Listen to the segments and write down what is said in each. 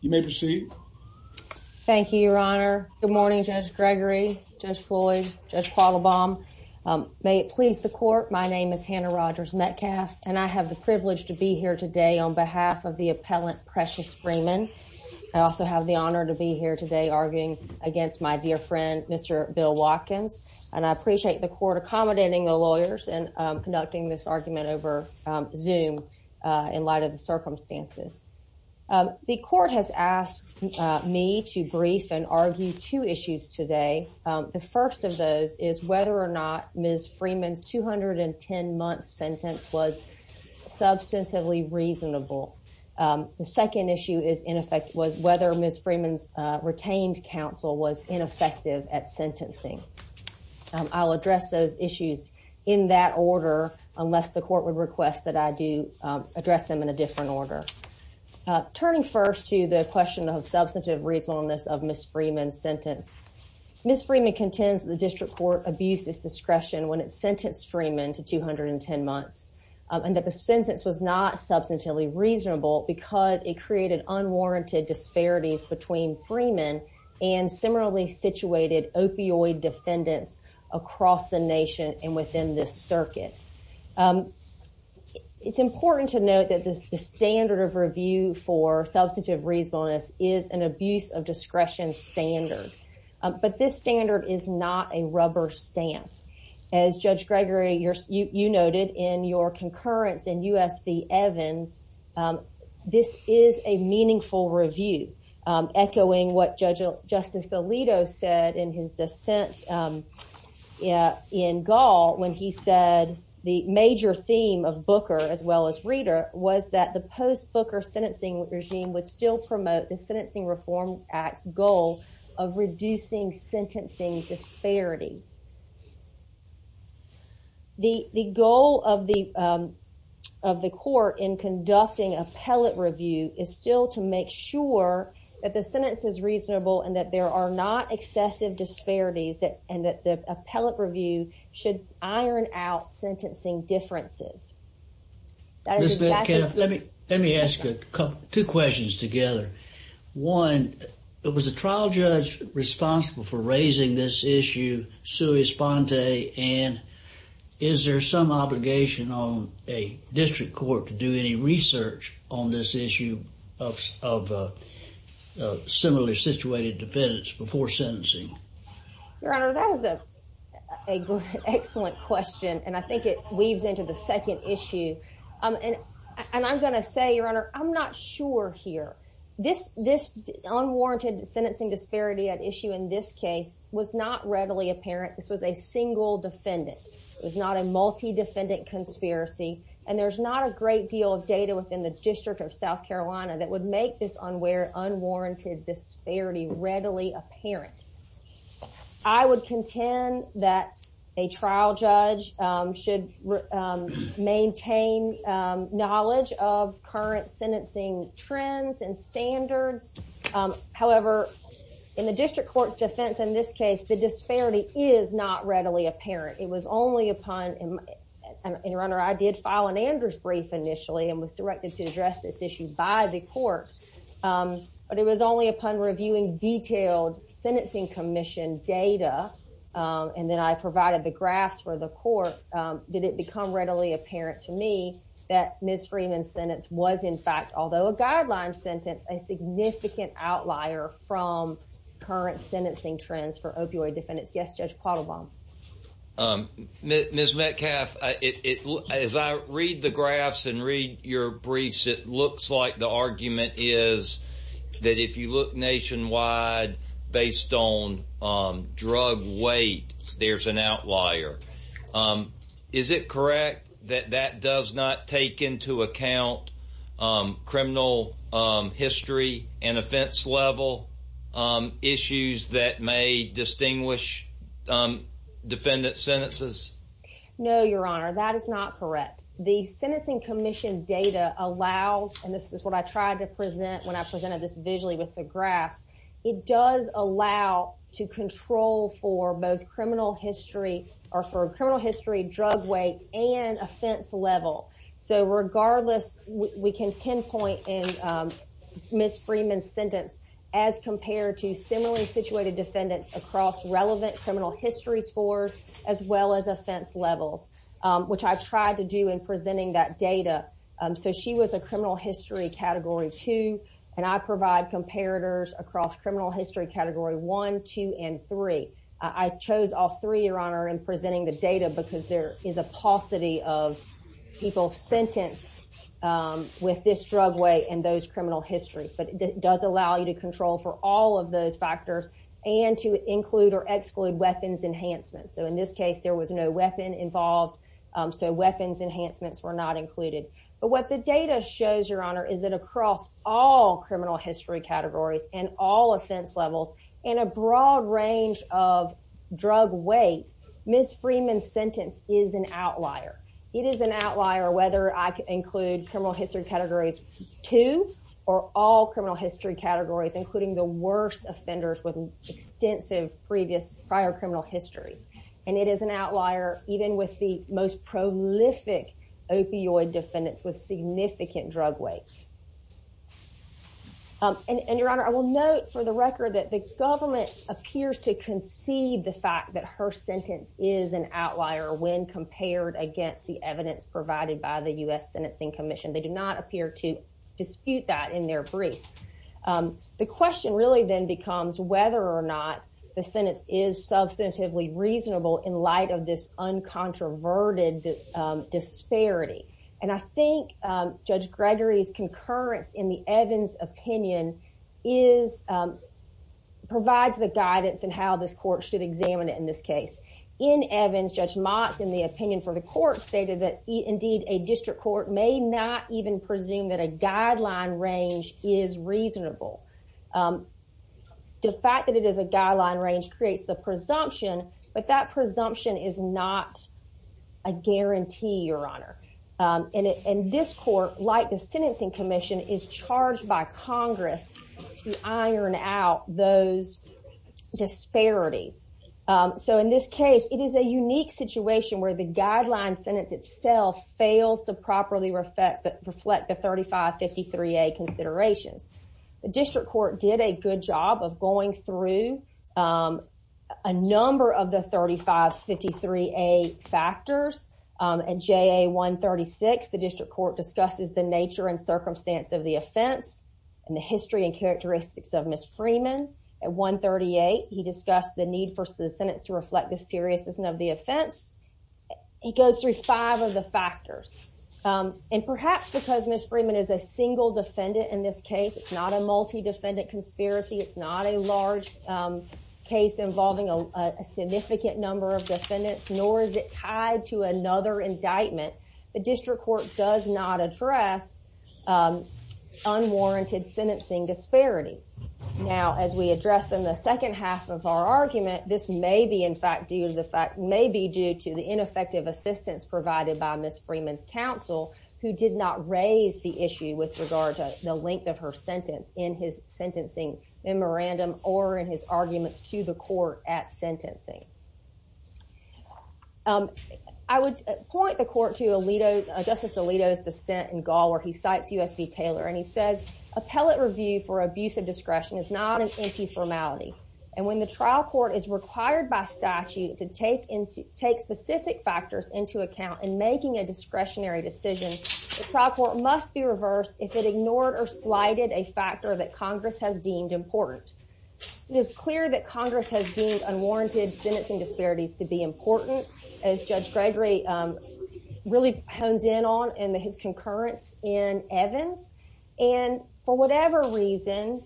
You may proceed. Thank you, Your Honor. Good morning, Judge Gregory, Judge Floyd, Judge Paula Baum. May it please the court. My name is Hannah Rogers Metcalf, and I have the privilege to be here today on behalf of the appellant Precious Freeman. I also have the honor to be here today arguing against my dear friend, Mr. Bill Watkins, and I appreciate the court accommodating the lawyers and conducting this argument over Zoom in light of the circumstances. The court has asked me to brief and argue two issues today. The first of those is whether or not Ms. Freeman's 210-month sentence was substantively reasonable. The second issue is, in effect, was whether Ms. Freeman's retained counsel was ineffective at sentencing. I'll address those issues in that order, unless the court would request that I do address them in a different order. Turning first to the question of substantive reasonableness of Ms. Freeman's sentence, Ms. Freeman contends the district court abused its discretion when it sentenced Freeman to 210 months and that the sentence was not substantively reasonable because it created unwarranted disparities between Freeman and similarly situated opioid defendants across the nation and within this circuit. It's important to note that the standard of review for substantive reasonableness is an abuse of discretion standard, but this standard is not a rubber stamp. As Judge Gregory, you noted in your concurrence in U.S. v. Evans, this is a when he said the major theme of Booker as well as Reeder was that the post-Booker sentencing regime would still promote the Sentencing Reform Act's goal of reducing sentencing disparities. The goal of the court in conducting appellate review is still to make sure that the sentence is reasonable and that there are not excessive disparities and that the appellate review should iron out sentencing differences. Let me ask you two questions together. One, it was a trial judge responsible for raising this issue, Sue Esponte, and is there some obligation on a district court to do any research on this issue of similarly situated defendants before sentencing? Your Honor, that is a excellent question and I think it weaves into the second issue. And I'm going to say, Your Honor, I'm not sure here. This unwarranted sentencing disparity at issue in this case was not readily apparent. This was a single defendant. It was not a multi defendant conspiracy and there's not a great deal of data within the District of South Carolina that would make this unwarranted disparity readily apparent. I would contend that a trial judge should maintain knowledge of current sentencing trends and standards. However, in the district and Your Honor, I did file an Andrews brief initially and was directed to address this issue by the court. But it was only upon reviewing detailed sentencing commission data and then I provided the graphs for the court, did it become readily apparent to me that Ms. Freeman's sentence was in fact, although a guideline sentence, a significant outlier from current trends for opioid defendants. Yes, Judge Quattlebaum. Ms. Metcalf, as I read the graphs and read your briefs, it looks like the argument is that if you look nationwide based on drug weight, there's an outlier. Is it correct that that does not take into account criminal history and offense level issues that may distinguish defendant sentences? No, Your Honor, that is not correct. The sentencing commission data allows, and this is what I tried to present when I presented this visually with the graphs, it does allow to control for both criminal history or for criminal history, drug weight, and offense level. So regardless, we can pinpoint in Ms. Freeman's sentence as compared to similarly situated defendants across relevant criminal history scores, as well as offense levels, which I tried to do in presenting that data. So she was a criminal history category two, and I provide comparators across criminal history category one, two, and three. I chose all three, in presenting the data because there is a paucity of people sentenced with this drug weight and those criminal histories, but it does allow you to control for all of those factors and to include or exclude weapons enhancements. So in this case, there was no weapon involved, so weapons enhancements were not included. But what the data shows, Your Honor, is that across all criminal history categories and all offense levels, in a broad range of drug weight, Ms. Freeman's sentence is an outlier. It is an outlier whether I include criminal history categories two or all criminal history categories, including the worst offenders with extensive prior criminal histories, and it is an outlier even with the most prolific opioid defendants with significant drug weights. And Your Honor, I will note for the record that the government appears to concede the fact that her sentence is an outlier when compared against the evidence provided by the U.S. Sentencing Commission. They do not appear to dispute that in their brief. The question really then becomes whether or not the sentence is substantively reasonable in light of this uncontroverted disparity. And I think Judge Gregory's concurrence in the Evans opinion provides the guidance in how this court should examine it in this case. In Evans, Judge Motz, in the opinion for the court, stated that indeed a district court may not even presume that a guideline range is reasonable. The fact that it is a guideline range creates the presumption, but that presumption is not a guarantee, Your Honor. And this court, like the Sentencing Commission, is charged by Congress to iron out those disparities. So in this case, it is a unique situation where the guideline sentence itself fails to properly reflect the 3553A considerations. The district court did a good job of going through a number of the 3553A factors. At JA 136, the district court discusses the nature and circumstance of the offense and the history and characteristics of Ms. Freeman. At 138, he discussed the need for the sentence to reflect the seriousness of the offense. He goes through five of the factors. And perhaps because Ms. Freeman is a defendant in this case, it's not a multi-defendant conspiracy. It's not a large case involving a significant number of defendants, nor is it tied to another indictment. The district court does not address unwarranted sentencing disparities. Now, as we address in the second half of our argument, this may be, in fact, due to the ineffective assistance provided by Ms. Freeman's counsel, who did not raise the issue with regard to the length of her sentence in his sentencing memorandum or in his arguments to the court at sentencing. I would point the court to Justice Alito's dissent in Gaul, where he cites U.S. v. Taylor. And he says, appellate review for abuse of discretion is not an empty formality. And when the trial court is required by statute to take specific factors into account in making a discretionary decision, the trial court must be reversed if it ignored or slighted a factor that Congress has deemed important. It is clear that Congress has deemed unwarranted sentencing disparities to be important, as Judge Gregory really hones in on in his concurrence in Evans. And for whatever reason,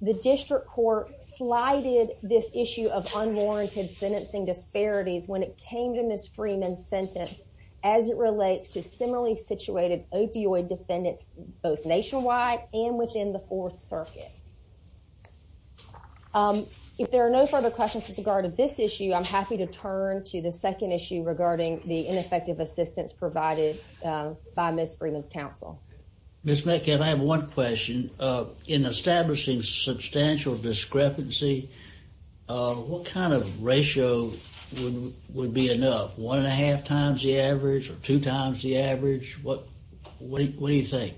the district court slighted this issue of unwarranted sentencing disparities when it came to Ms. Freeman's sentence as it relates to similarly situated opioid defendants, both nationwide and within the Fourth Circuit. If there are no further questions with regard to this issue, I'm happy to turn to the second issue regarding the ineffective assistance provided by Ms. Freeman's counsel. Ms. Metcalf, I have one question. In establishing substantial discrepancy, what kind of ratio would be enough? One and a half times the average or two times the average? What do you think?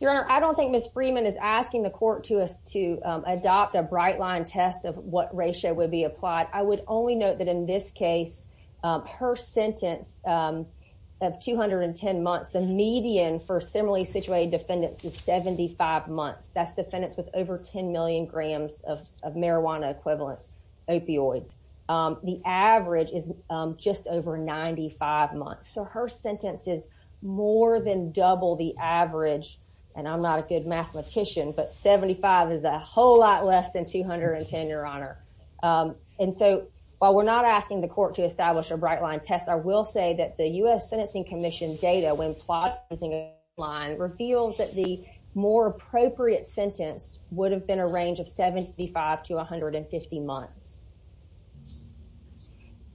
Your Honor, I don't think Ms. Freeman is asking the court to us to adopt a bright line test of what ratio would be applied. I would only note that in this case, her sentence of 210 months, the median for similarly situated defendants is 75 months. That's defendants with over 10 million grams of marijuana equivalent opioids. The average is just over 95 months. So her sentence is more than double the average, and I'm not a good mathematician, but 75 is a whole lot less than 210, Your Honor. And so while we're not asking the court to establish a bright line test, I will say that the U.S. Sentencing Commission data, when plot using a line, reveals that the more appropriate sentence would have been a range of 75 to 150 months.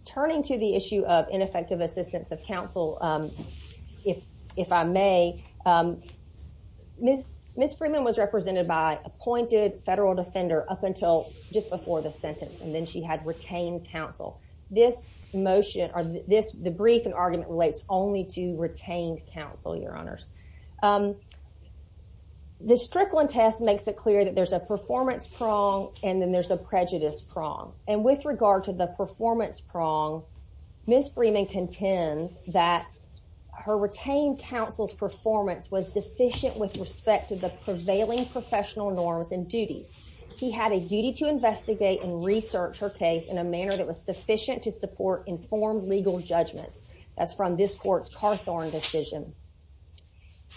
Turning to the issue of ineffective assistance of counsel, if I may, Ms. Freeman was represented by appointed federal defender up until just before the sentence, and then she had retained counsel. The brief and argument relates only to retained counsel, Your Honors. The Strickland test makes it clear that there's a performance prong, and then there's a prejudice prong. And with regard to the performance prong, Ms. Freeman contends that her retained counsel's performance was deficient with respect to the prevailing professional norms and duties. He had a duty to investigate and research her case in a manner that was sufficient to support informed legal judgments. That's from this court's Carthorne decision.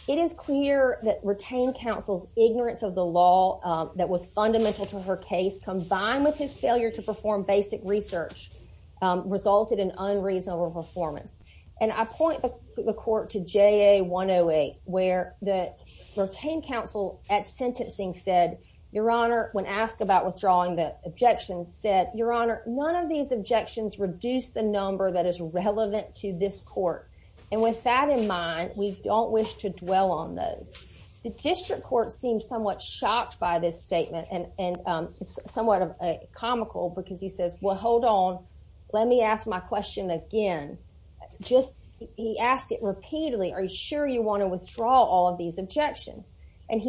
It is clear that retained counsel's ignorance of the law that was fundamental to her case, combined with his failure to perform basic research, resulted in unreasonable performance. And I point the court to JA 108, where the retained counsel at sentencing said, Your Honor, when asked about withdrawing the objections, said, Your Honor, none of these objections reduce the number that is relevant to this court. And with that in mind, we don't wish to dwell on those. The district court seemed somewhat shocked by this statement, and somewhat comical, because he says, Well, hold on. Let me ask my question again. He asked it repeatedly. Are you sure you want to withdraw all of these objections? And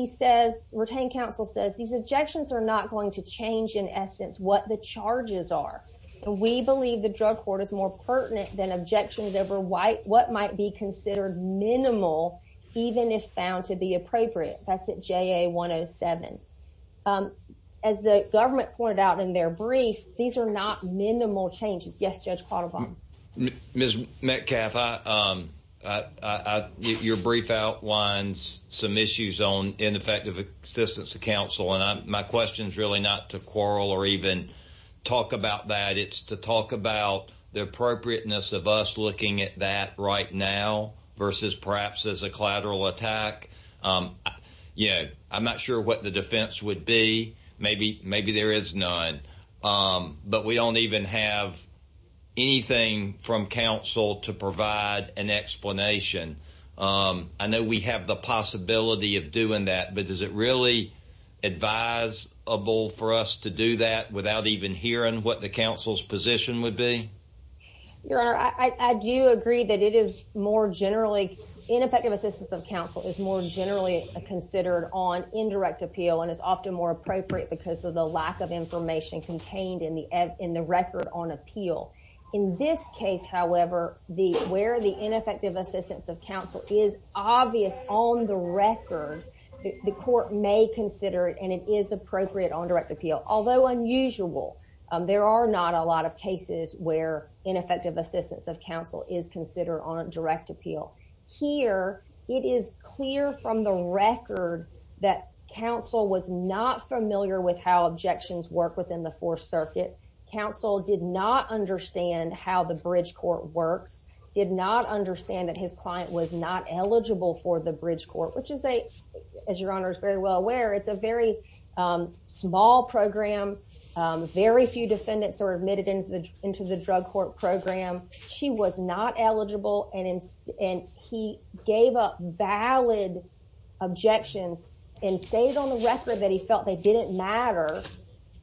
retained counsel says, These objections are not going to change, in essence, what the charges are. We believe the drug court is more pertinent than objections over what might be considered minimal, even if found to be brief. These are not minimal changes. Yes, Judge Quattlebaum. Ms. Metcalfe, your brief outlines some issues on ineffective assistance to counsel. And my question is really not to quarrel or even talk about that. It's to talk about the appropriateness of us looking at that right now, versus perhaps as a collateral attack. I'm not sure what the But we don't even have anything from counsel to provide an explanation. I know we have the possibility of doing that, but is it really advisable for us to do that without even hearing what the counsel's position would be? Your Honor, I do agree that it is more generally, ineffective assistance of counsel is more generally considered on indirect appeal, and is often more appropriate because of the lack of information contained in the record on appeal. In this case, however, where the ineffective assistance of counsel is obvious on the record, the court may consider it, and it is appropriate on direct appeal. Although unusual, there are not a lot of cases where ineffective assistance of counsel is considered on direct that counsel was not familiar with how objections work within the Fourth Circuit. Counsel did not understand how the bridge court works, did not understand that his client was not eligible for the bridge court, which is a, as your Honor is very well aware, it's a very small program. Very few defendants are admitted into the drug court program. She was not eligible, and he gave up valid objections and stated on the record that he felt they didn't matter.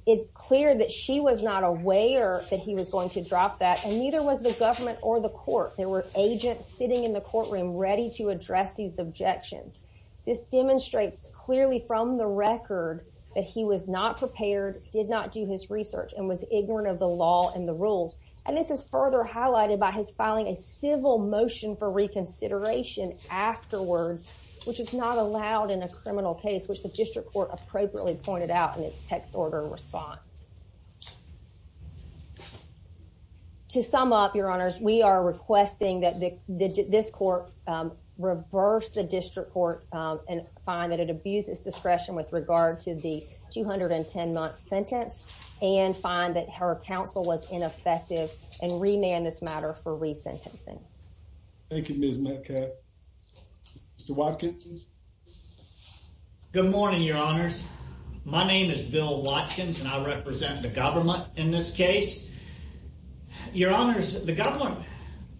It's clear that she was not aware that he was going to drop that, and neither was the government or the court. There were agents sitting in the courtroom ready to address these objections. This demonstrates clearly from the record that he was not prepared, did not do his research, and was ignorant of the law and the rules. And this is further highlighted by his filing a civil motion for reconsideration afterwards, which is not allowed in a criminal case, which the district court appropriately pointed out in its text order response. To sum up, your Honors, we are requesting that this court reverse the district court and find that it abuses discretion with regard to the 210-month sentence and find that her counsel was ineffective and remand this matter for re-sentencing. Thank you, Ms. Metcalf. Mr. Watkins. Good morning, your Honors. My name is Bill Watkins, and I represent the government in this case. Your Honors, the government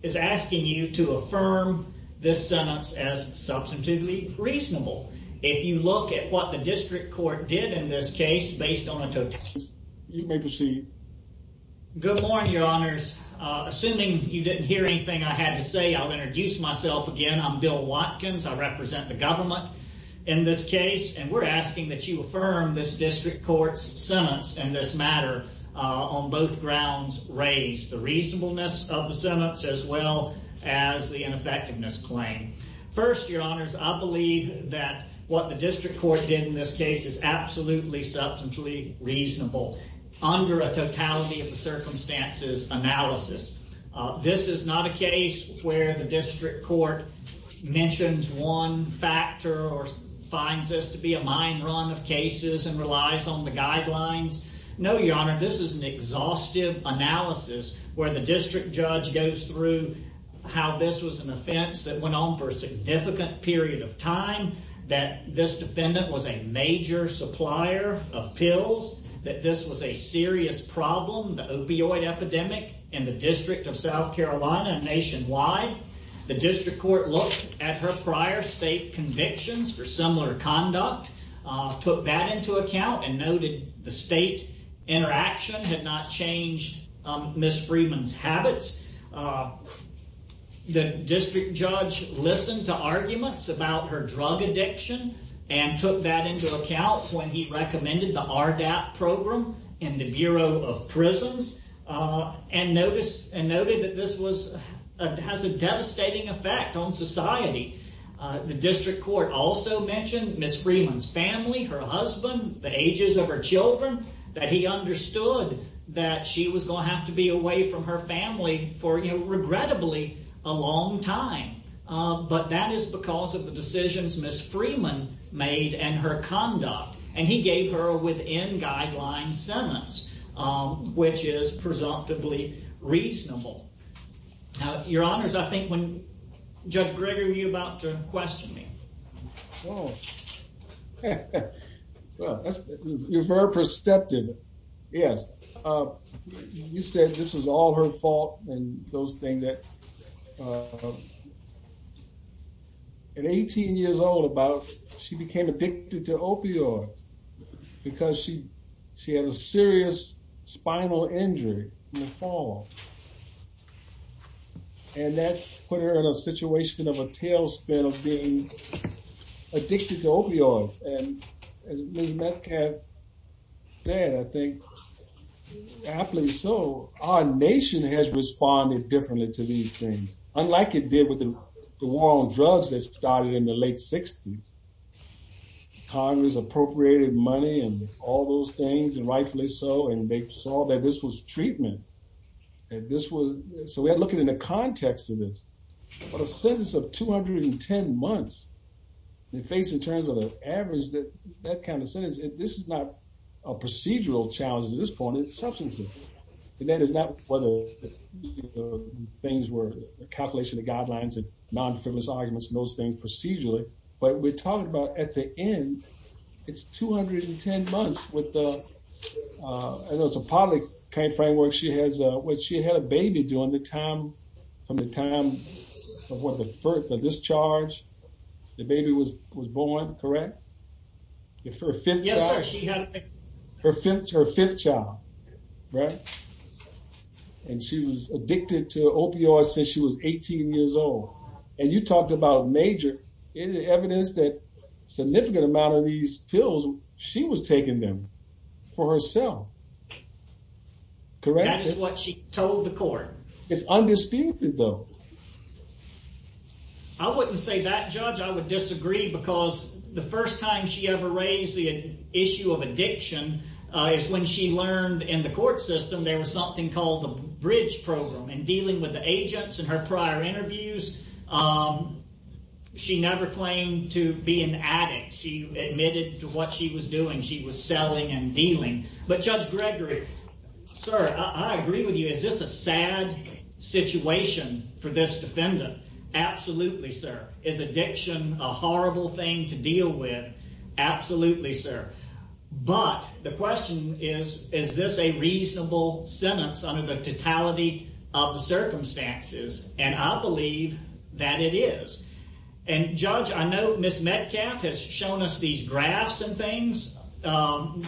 is asking you to affirm this sentence as substantively reasonable. If you look at what the district court did in this case based on a totality, you may proceed. Good morning, your Honors. Assuming you didn't hear anything I had to say, I'll introduce myself again. I'm Bill Watkins. I represent the government in this case, and we're asking that you affirm this district court's sentence and this matter on both grounds raised the reasonableness of the sentence as well as the ineffectiveness claim. First, your Honors, I believe that what the analysis. This is not a case where the district court mentions one factor or finds this to be a mine run of cases and relies on the guidelines. No, your Honors, this is an exhaustive analysis where the district judge goes through how this was an offense that went on for a significant period of time, that this defendant was a major supplier of pills, that this was a serious problem, the opioid epidemic in the District of South Carolina and nationwide. The district court looked at her prior state convictions for similar conduct, took that into account, and noted the state interaction had not changed Ms. Freeman's habits. The district judge listened to arguments about her drug addiction and took that into account when he recommended the RDAP program in the Bureau of Prisons and noted that this has a devastating effect on society. The district court also mentioned Ms. Freeman's family, her husband, the ages of her children, that he understood that she was going to have to be away from her family for, regrettably, a long time. But that is because of the decisions Ms. Freeman made and her conduct, and he gave her within guideline sentence, which is presumptively reasonable. Your Honors, I think when, Judge Greger, you're about to question me. Oh, well, you're very perceptive, yes. You said this is all her fault and those things that, at 18 years old, she became addicted to opioid because she had a serious spinal injury in the fall and that put her in a situation of a tailspin of being addicted to opioid. And as Ms. Metcalf has said, I think, happily so, our nation has responded differently to these things, unlike it did with the war on drugs that started in the late 60s. Congress appropriated money and all those things, and rightfully so, and they saw that this was treatment. And this was, so we're looking in the context of this, but a sentence of 210 months, they face in terms of the average that that kind of sentence, and this is not a procedural challenge at this point, it's substantive. And that is not whether things were a compilation of guidelines and non-defenseless arguments and those things procedurally, but we're talking about at the end, it's 210 months with the, I know it's a public kind of framework, she has, when she had a baby during the time, from the time of what the first, the discharge, the baby was born, correct? If her fifth child, her fifth child, right? And she was addicted to opioids since she was 18 years old. And you talked about major evidence that significant amount of these pills, she was taking them for herself, correct? That is what she told the court. It's undisputed though. I wouldn't say that, Judge, I would disagree because the first time she ever raised the issue of addiction is when she learned in the court system there was something called the bridge program, and dealing with the agents in her prior interviews, she never claimed to be an addict. She admitted to what she was doing, she was selling and dealing. But Judge Gregory, sir, I agree with you. Is this a sad situation for this defendant? Absolutely, sir. Is addiction a horrible thing to deal with? Absolutely, sir. But the question is, is this a reasonable sentence under the totality of the circumstances? And I believe that it is. And Judge, I know Ms. Metcalf has shown us these graphs and things.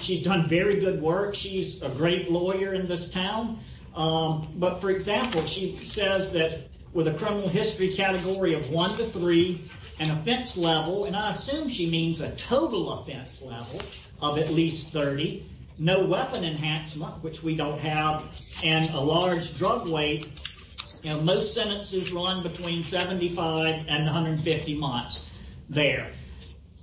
She's done very good work. She's a great lawyer in this town. But for example, she says that with a criminal history category of one to three, an offense level, and I assume she means a total offense level of at least 30, no weapon enhancement, which we don't have, and a large drug weight, most sentences run between 75 and 150 months there.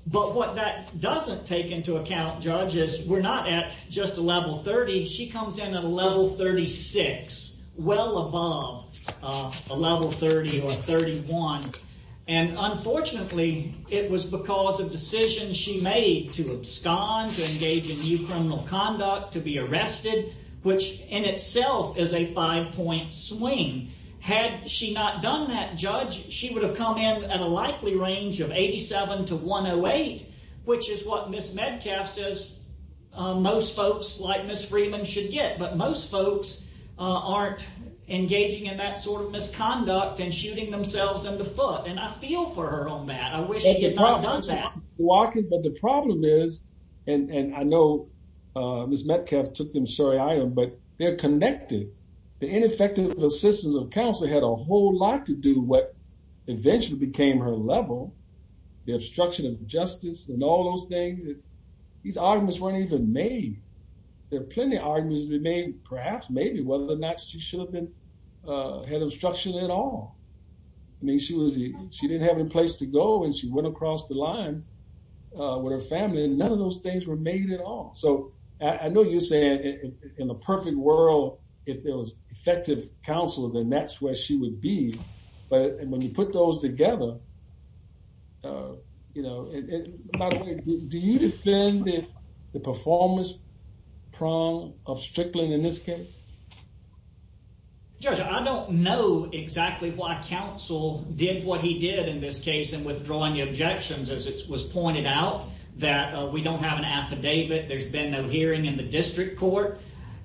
But what that doesn't take into account, Judge, is we're not at just a level 30. She comes in at a level 36, well above a level 30 or 31. And unfortunately, it was because of decisions she made to abscond, to engage in new criminal conduct, to be arrested, which in itself is a swing. Had she not done that, Judge, she would have come in at a likely range of 87 to 108, which is what Ms. Metcalf says most folks like Ms. Freeman should get. But most folks aren't engaging in that sort of misconduct and shooting themselves in the foot. And I feel for her on that. I wish she had not done that. The problem is, and I know Ms. Metcalf took them, sorry I am, but they're connected. The ineffective assistance of counsel had a whole lot to do with what eventually became her level, the obstruction of justice and all those things. These arguments weren't even made. There are plenty of arguments to be made, perhaps, maybe, whether or not she should have been, had obstruction at all. I mean, she didn't have any place to go, and she went across the line with her family, and none of those things were made at all. So I know you're saying in the perfect world, if there was effective counsel, then that's where she would be. But when you put those together, do you defend the performance prong of Strickland in this case? Judge, I don't know exactly why counsel did what he did in this case in withdrawing the objections, as it was pointed out, that we don't have an affidavit, there's been no hearing in the district court.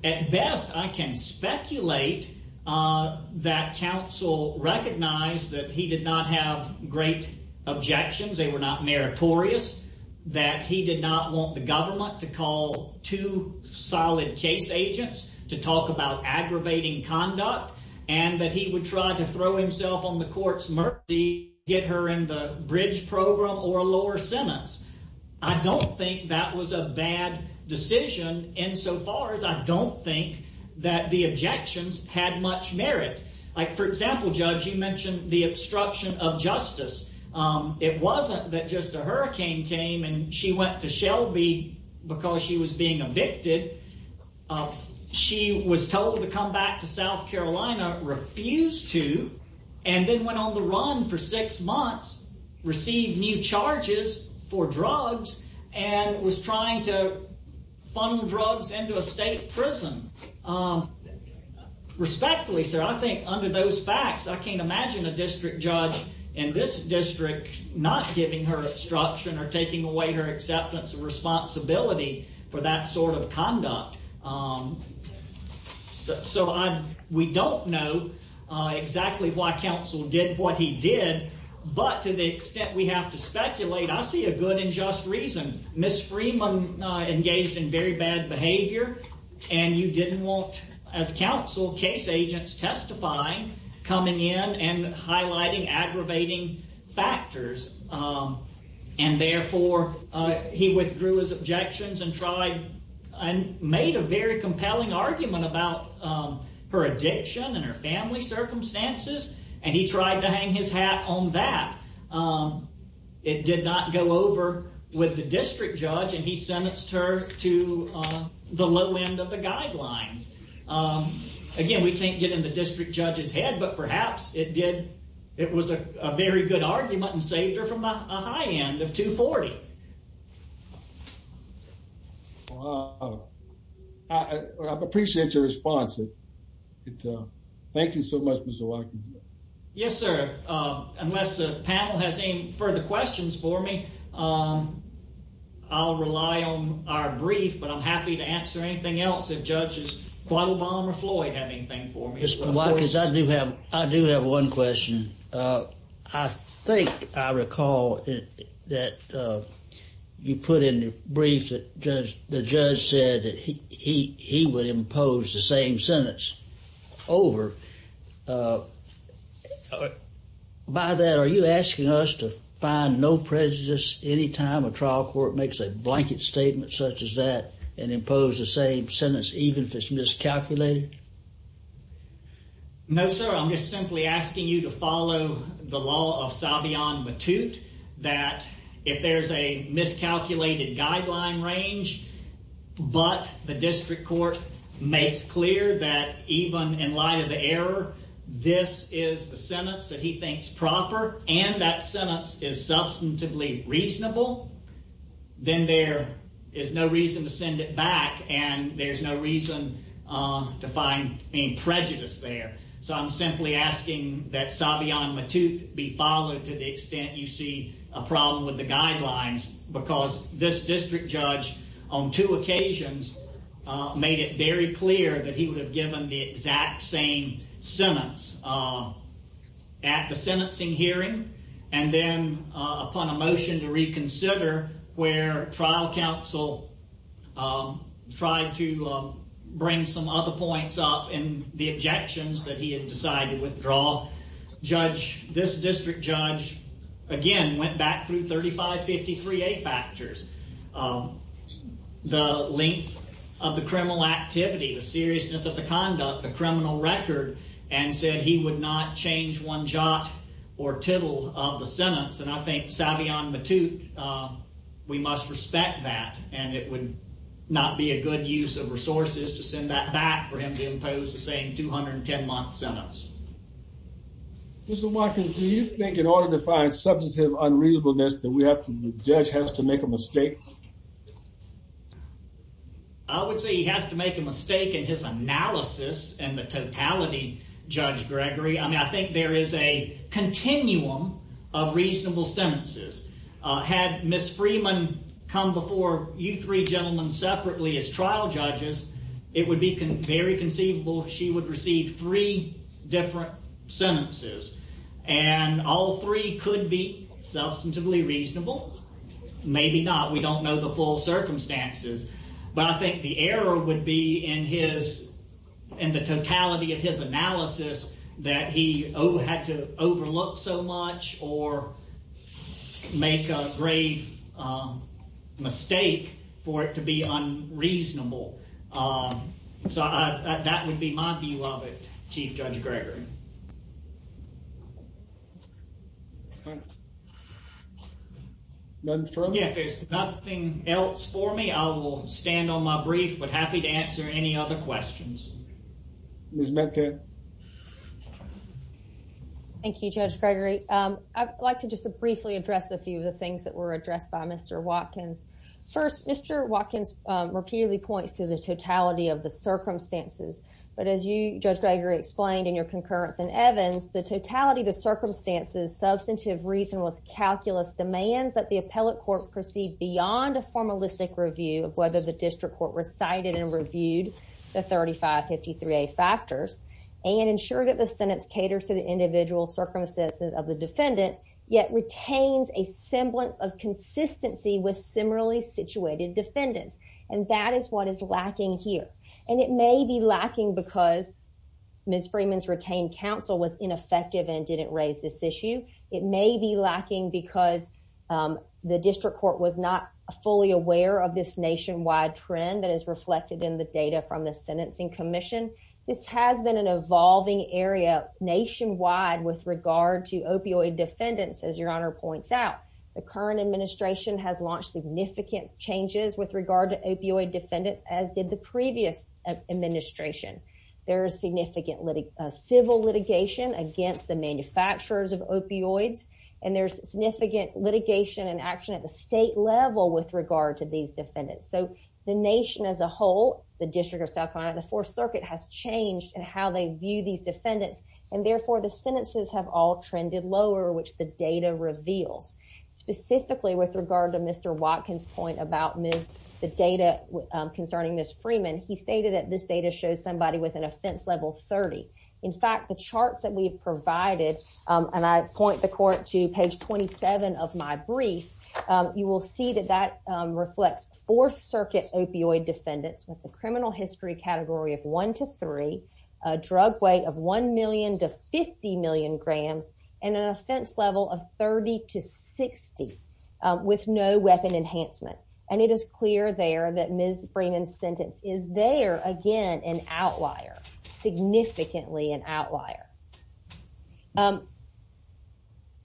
At best, I can speculate that counsel recognized that he did not have great objections, they were not meritorious, that he did not want the government to call two solid case agents to talk about aggravating conduct, and that he would try to throw himself on the court's mercy, get her in the bridge program, or a lower sentence. I don't think that was a bad decision, insofar as I don't think that the objections had much merit. Like, for example, Judge, you mentioned the obstruction of justice. It wasn't that just a hurricane came, and she went to Shelby because she was being evicted. She was told to come back to South Carolina, refused to, and then went on the run for six months, received new charges for drugs, and was trying to funnel drugs into a state prison. Respectfully, sir, I think under those facts, I can't imagine a district judge in this district not giving her obstruction or taking away her acceptance of responsibility for that sort of conduct. So we don't know exactly why counsel did what he did, but to the extent we have to speculate, I see a good and just reason. Ms. Freeman engaged in very bad behavior, and you didn't want, as counsel, case agents testifying, coming in and highlighting aggravating factors, and therefore he withdrew his objections and made a very compelling argument about her addiction and her family circumstances, and he tried to hang his hat on that. It did not go over with the district judge, and he sentenced her to the low end of the guidelines. Again, we can't get in the district judge's head, but perhaps it was a very good argument and saved her from a high end of $240,000. I appreciate your response. Thank you so much, Mr. Watkins. Yes, sir. Unless the panel has any further questions for me, I'll rely on our brief, but I'm happy to answer anything else if judges Butler, Obama, or Floyd have anything for me. Mr. Watkins, I do have one question. I think I recall that you put in the brief that the judge said that he would impose the same sentence over. By that, are you asking us to find no prejudice any time a trial court makes a blanket statement such as that and impose the same sentence even if it's miscalculated? No, sir. I'm just simply asking you to follow the law of Savion Matute, that if there's a miscalculated guideline range, but the district court makes clear that even in reasonable, then there is no reason to send it back and there's no reason to find any prejudice there. So I'm simply asking that Savion Matute be followed to the extent you see a problem with the guidelines because this district judge on two occasions made it very clear that he would have a motion to reconsider where trial counsel tried to bring some other points up in the objections that he had decided to withdraw. This district judge, again, went back through 3553A factors, the length of the criminal activity, the seriousness of the conduct, the criminal record, and said he would not change one jot or tittle of the sentence and I think Savion Matute, we must respect that and it would not be a good use of resources to send that back for him to impose the same 210 month sentence. Mr. Watkins, do you think in order to find substantive unreasonableness that the judge has to make a mistake? I would say he has to make a mistake in his analysis and the totality, Judge Gregory. I mean, I think there is a continuum of reasonable sentences. Had Ms. Freeman come before you three gentlemen separately as trial judges, it would be very conceivable she would receive three different sentences and all three could be substantively reasonable. Maybe not. We don't know the full circumstances, but I think the error would be in the totality of his analysis that he had to overlook so much or make a grave mistake for it to be unreasonable. So that would be my view of it, Chief Judge Gregory. If there's nothing else for me, I will stand on my brief but happy to answer any other questions. Thank you, Judge Gregory. I'd like to just briefly address a few of the things that were addressed by Mr. Watkins. First, Mr. Watkins repeatedly points to the totality of the circumstances, but as you, Judge Gregory, explained in your concurrence in Evans, the totality of the circumstances substantive reason was calculus demands that the appellate court proceed beyond a formalistic review of whether the district court recited and reviewed the 3553A factors and ensure that the sentence caters to the individual circumstances of the defendant, yet retains a semblance of consistency with similarly situated defendants, and that is what is lacking here. And it may be lacking because Ms. Freeman's retained counsel was ineffective and didn't raise this issue. It may be lacking because the district court was not fully aware of this nationwide trend that is reflected in the data from the Sentencing Commission. This has been an evolving area nationwide with regard to opioid defendants, as Your Honor points out. The current administration has launched significant changes with regard to opioid defendants as did the previous administration. There is significant civil litigation against the manufacturers of opioids, and there's significant litigation and action at the state level with regard to these defendants. So the nation as a whole, the District of South Carolina, the Fourth Circuit has changed in how they view these defendants, and therefore the sentences have all trended lower, which the data reveals. Specifically with regard to Mr. Watkins' point about the data concerning Ms. Freeman, he stated that this data shows somebody with an offense level 30. In fact, the charts that we've provided, and I point the court to page 27 of my brief, you will see that that reflects Fourth Circuit opioid defendants with a criminal history category of 1 to 3, a drug weight of 1 million to 50 million grams, and an offense level of 30 to 60 with no weapon enhancement. And it is clear there that Ms. Freeman's sentence is there, again, an outlier, significantly an outlier.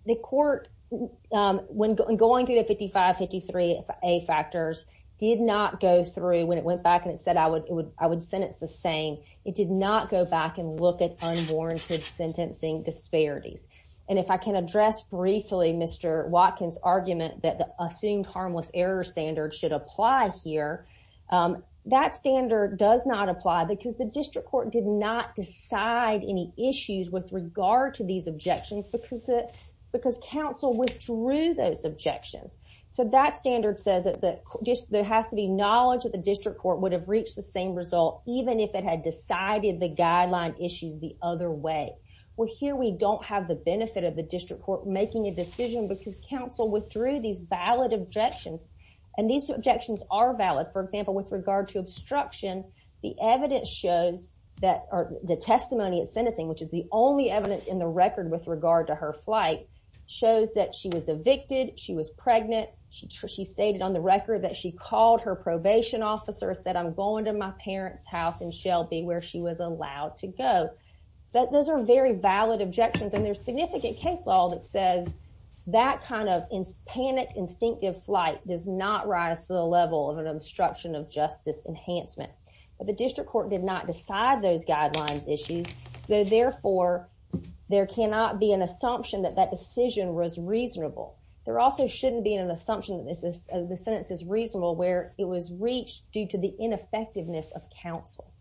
The court, when going through the 55-53 A factors, did not go through, when it went back and it said I would sentence the same, it did not go back and look at unwarranted sentencing disparities. And if I can address briefly Mr. Watkins' argument that the assumed harmless error standard should apply here, that standard does not apply because the district court did not decide any issues with regard to these objections because counsel withdrew those objections. So that standard says that there has to be knowledge that the district court would have reached the same result even if it had decided the because counsel withdrew these valid objections. And these objections are valid. For example, with regard to obstruction, the evidence shows that the testimony of sentencing, which is the only evidence in the record with regard to her flight, shows that she was evicted, she was pregnant, she stated on the record that she called her probation officer, said I'm going to my parents' house in Shelby where she was allowed to go. So those are very valid objections and there's significant case law that says that kind of panic instinctive flight does not rise to the level of an obstruction of justice enhancement. But the district court did not decide those guidelines issues, so therefore there cannot be an assumption that that decision was reasonable. There also shouldn't be an assumption that the sentence is reasonable where it was reached due to the ineffectiveness of counsel.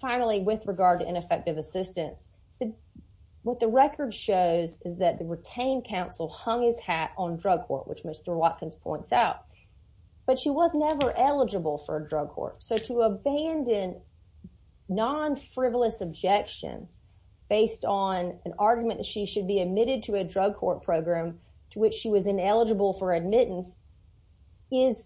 Finally, with regard to ineffective assistance, what the record shows is that the retained counsel hung his hat on drug court, which Mr. Watkins points out, but she was never eligible for a drug court. So to abandon non-frivolous objections based on an argument that she should be admitted to a drug court program to which she was ineligible for admittance is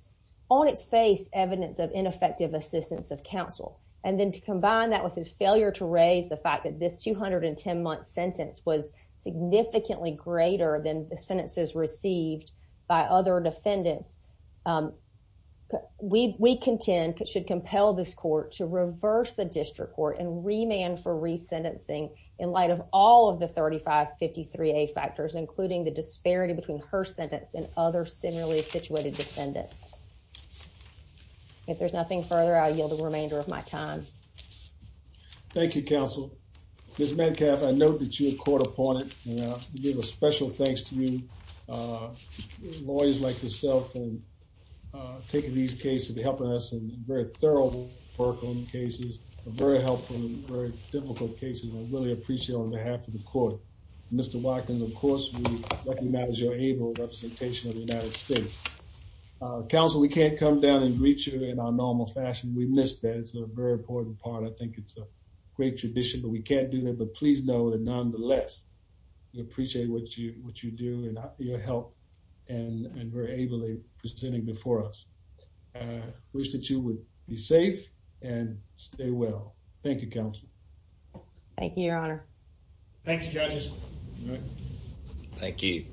on its face evidence of ineffective assistance of counsel. And then combine that with his failure to raise the fact that this 210-month sentence was significantly greater than the sentences received by other defendants. We contend should compel this court to reverse the district court and remand for resentencing in light of all of the 3553A factors, including the disparity between her sentence and other similarly situated defendants. If there's nothing further, I yield the remainder of my time. Thank you, counsel. Ms. Metcalf, I note that you were caught upon it, and I give a special thanks to you, lawyers like yourself, for taking these cases and helping us in very thorough work on cases, very helpful and very difficult cases. I really appreciate it on behalf of the court. Mr. Watkins, of course, we recognize your able representation of the United States. Counsel, we can't come down and greet you in our normal fashion. We miss that. It's a very important part. I think it's a great tradition, but we can't do that. But please know that nonetheless, we appreciate what you do and your help and very ably presenting before us. I wish that you would be safe and stay well. Thank you, counsel. Thank you, Your Honor. Thank you, judges. Thank you.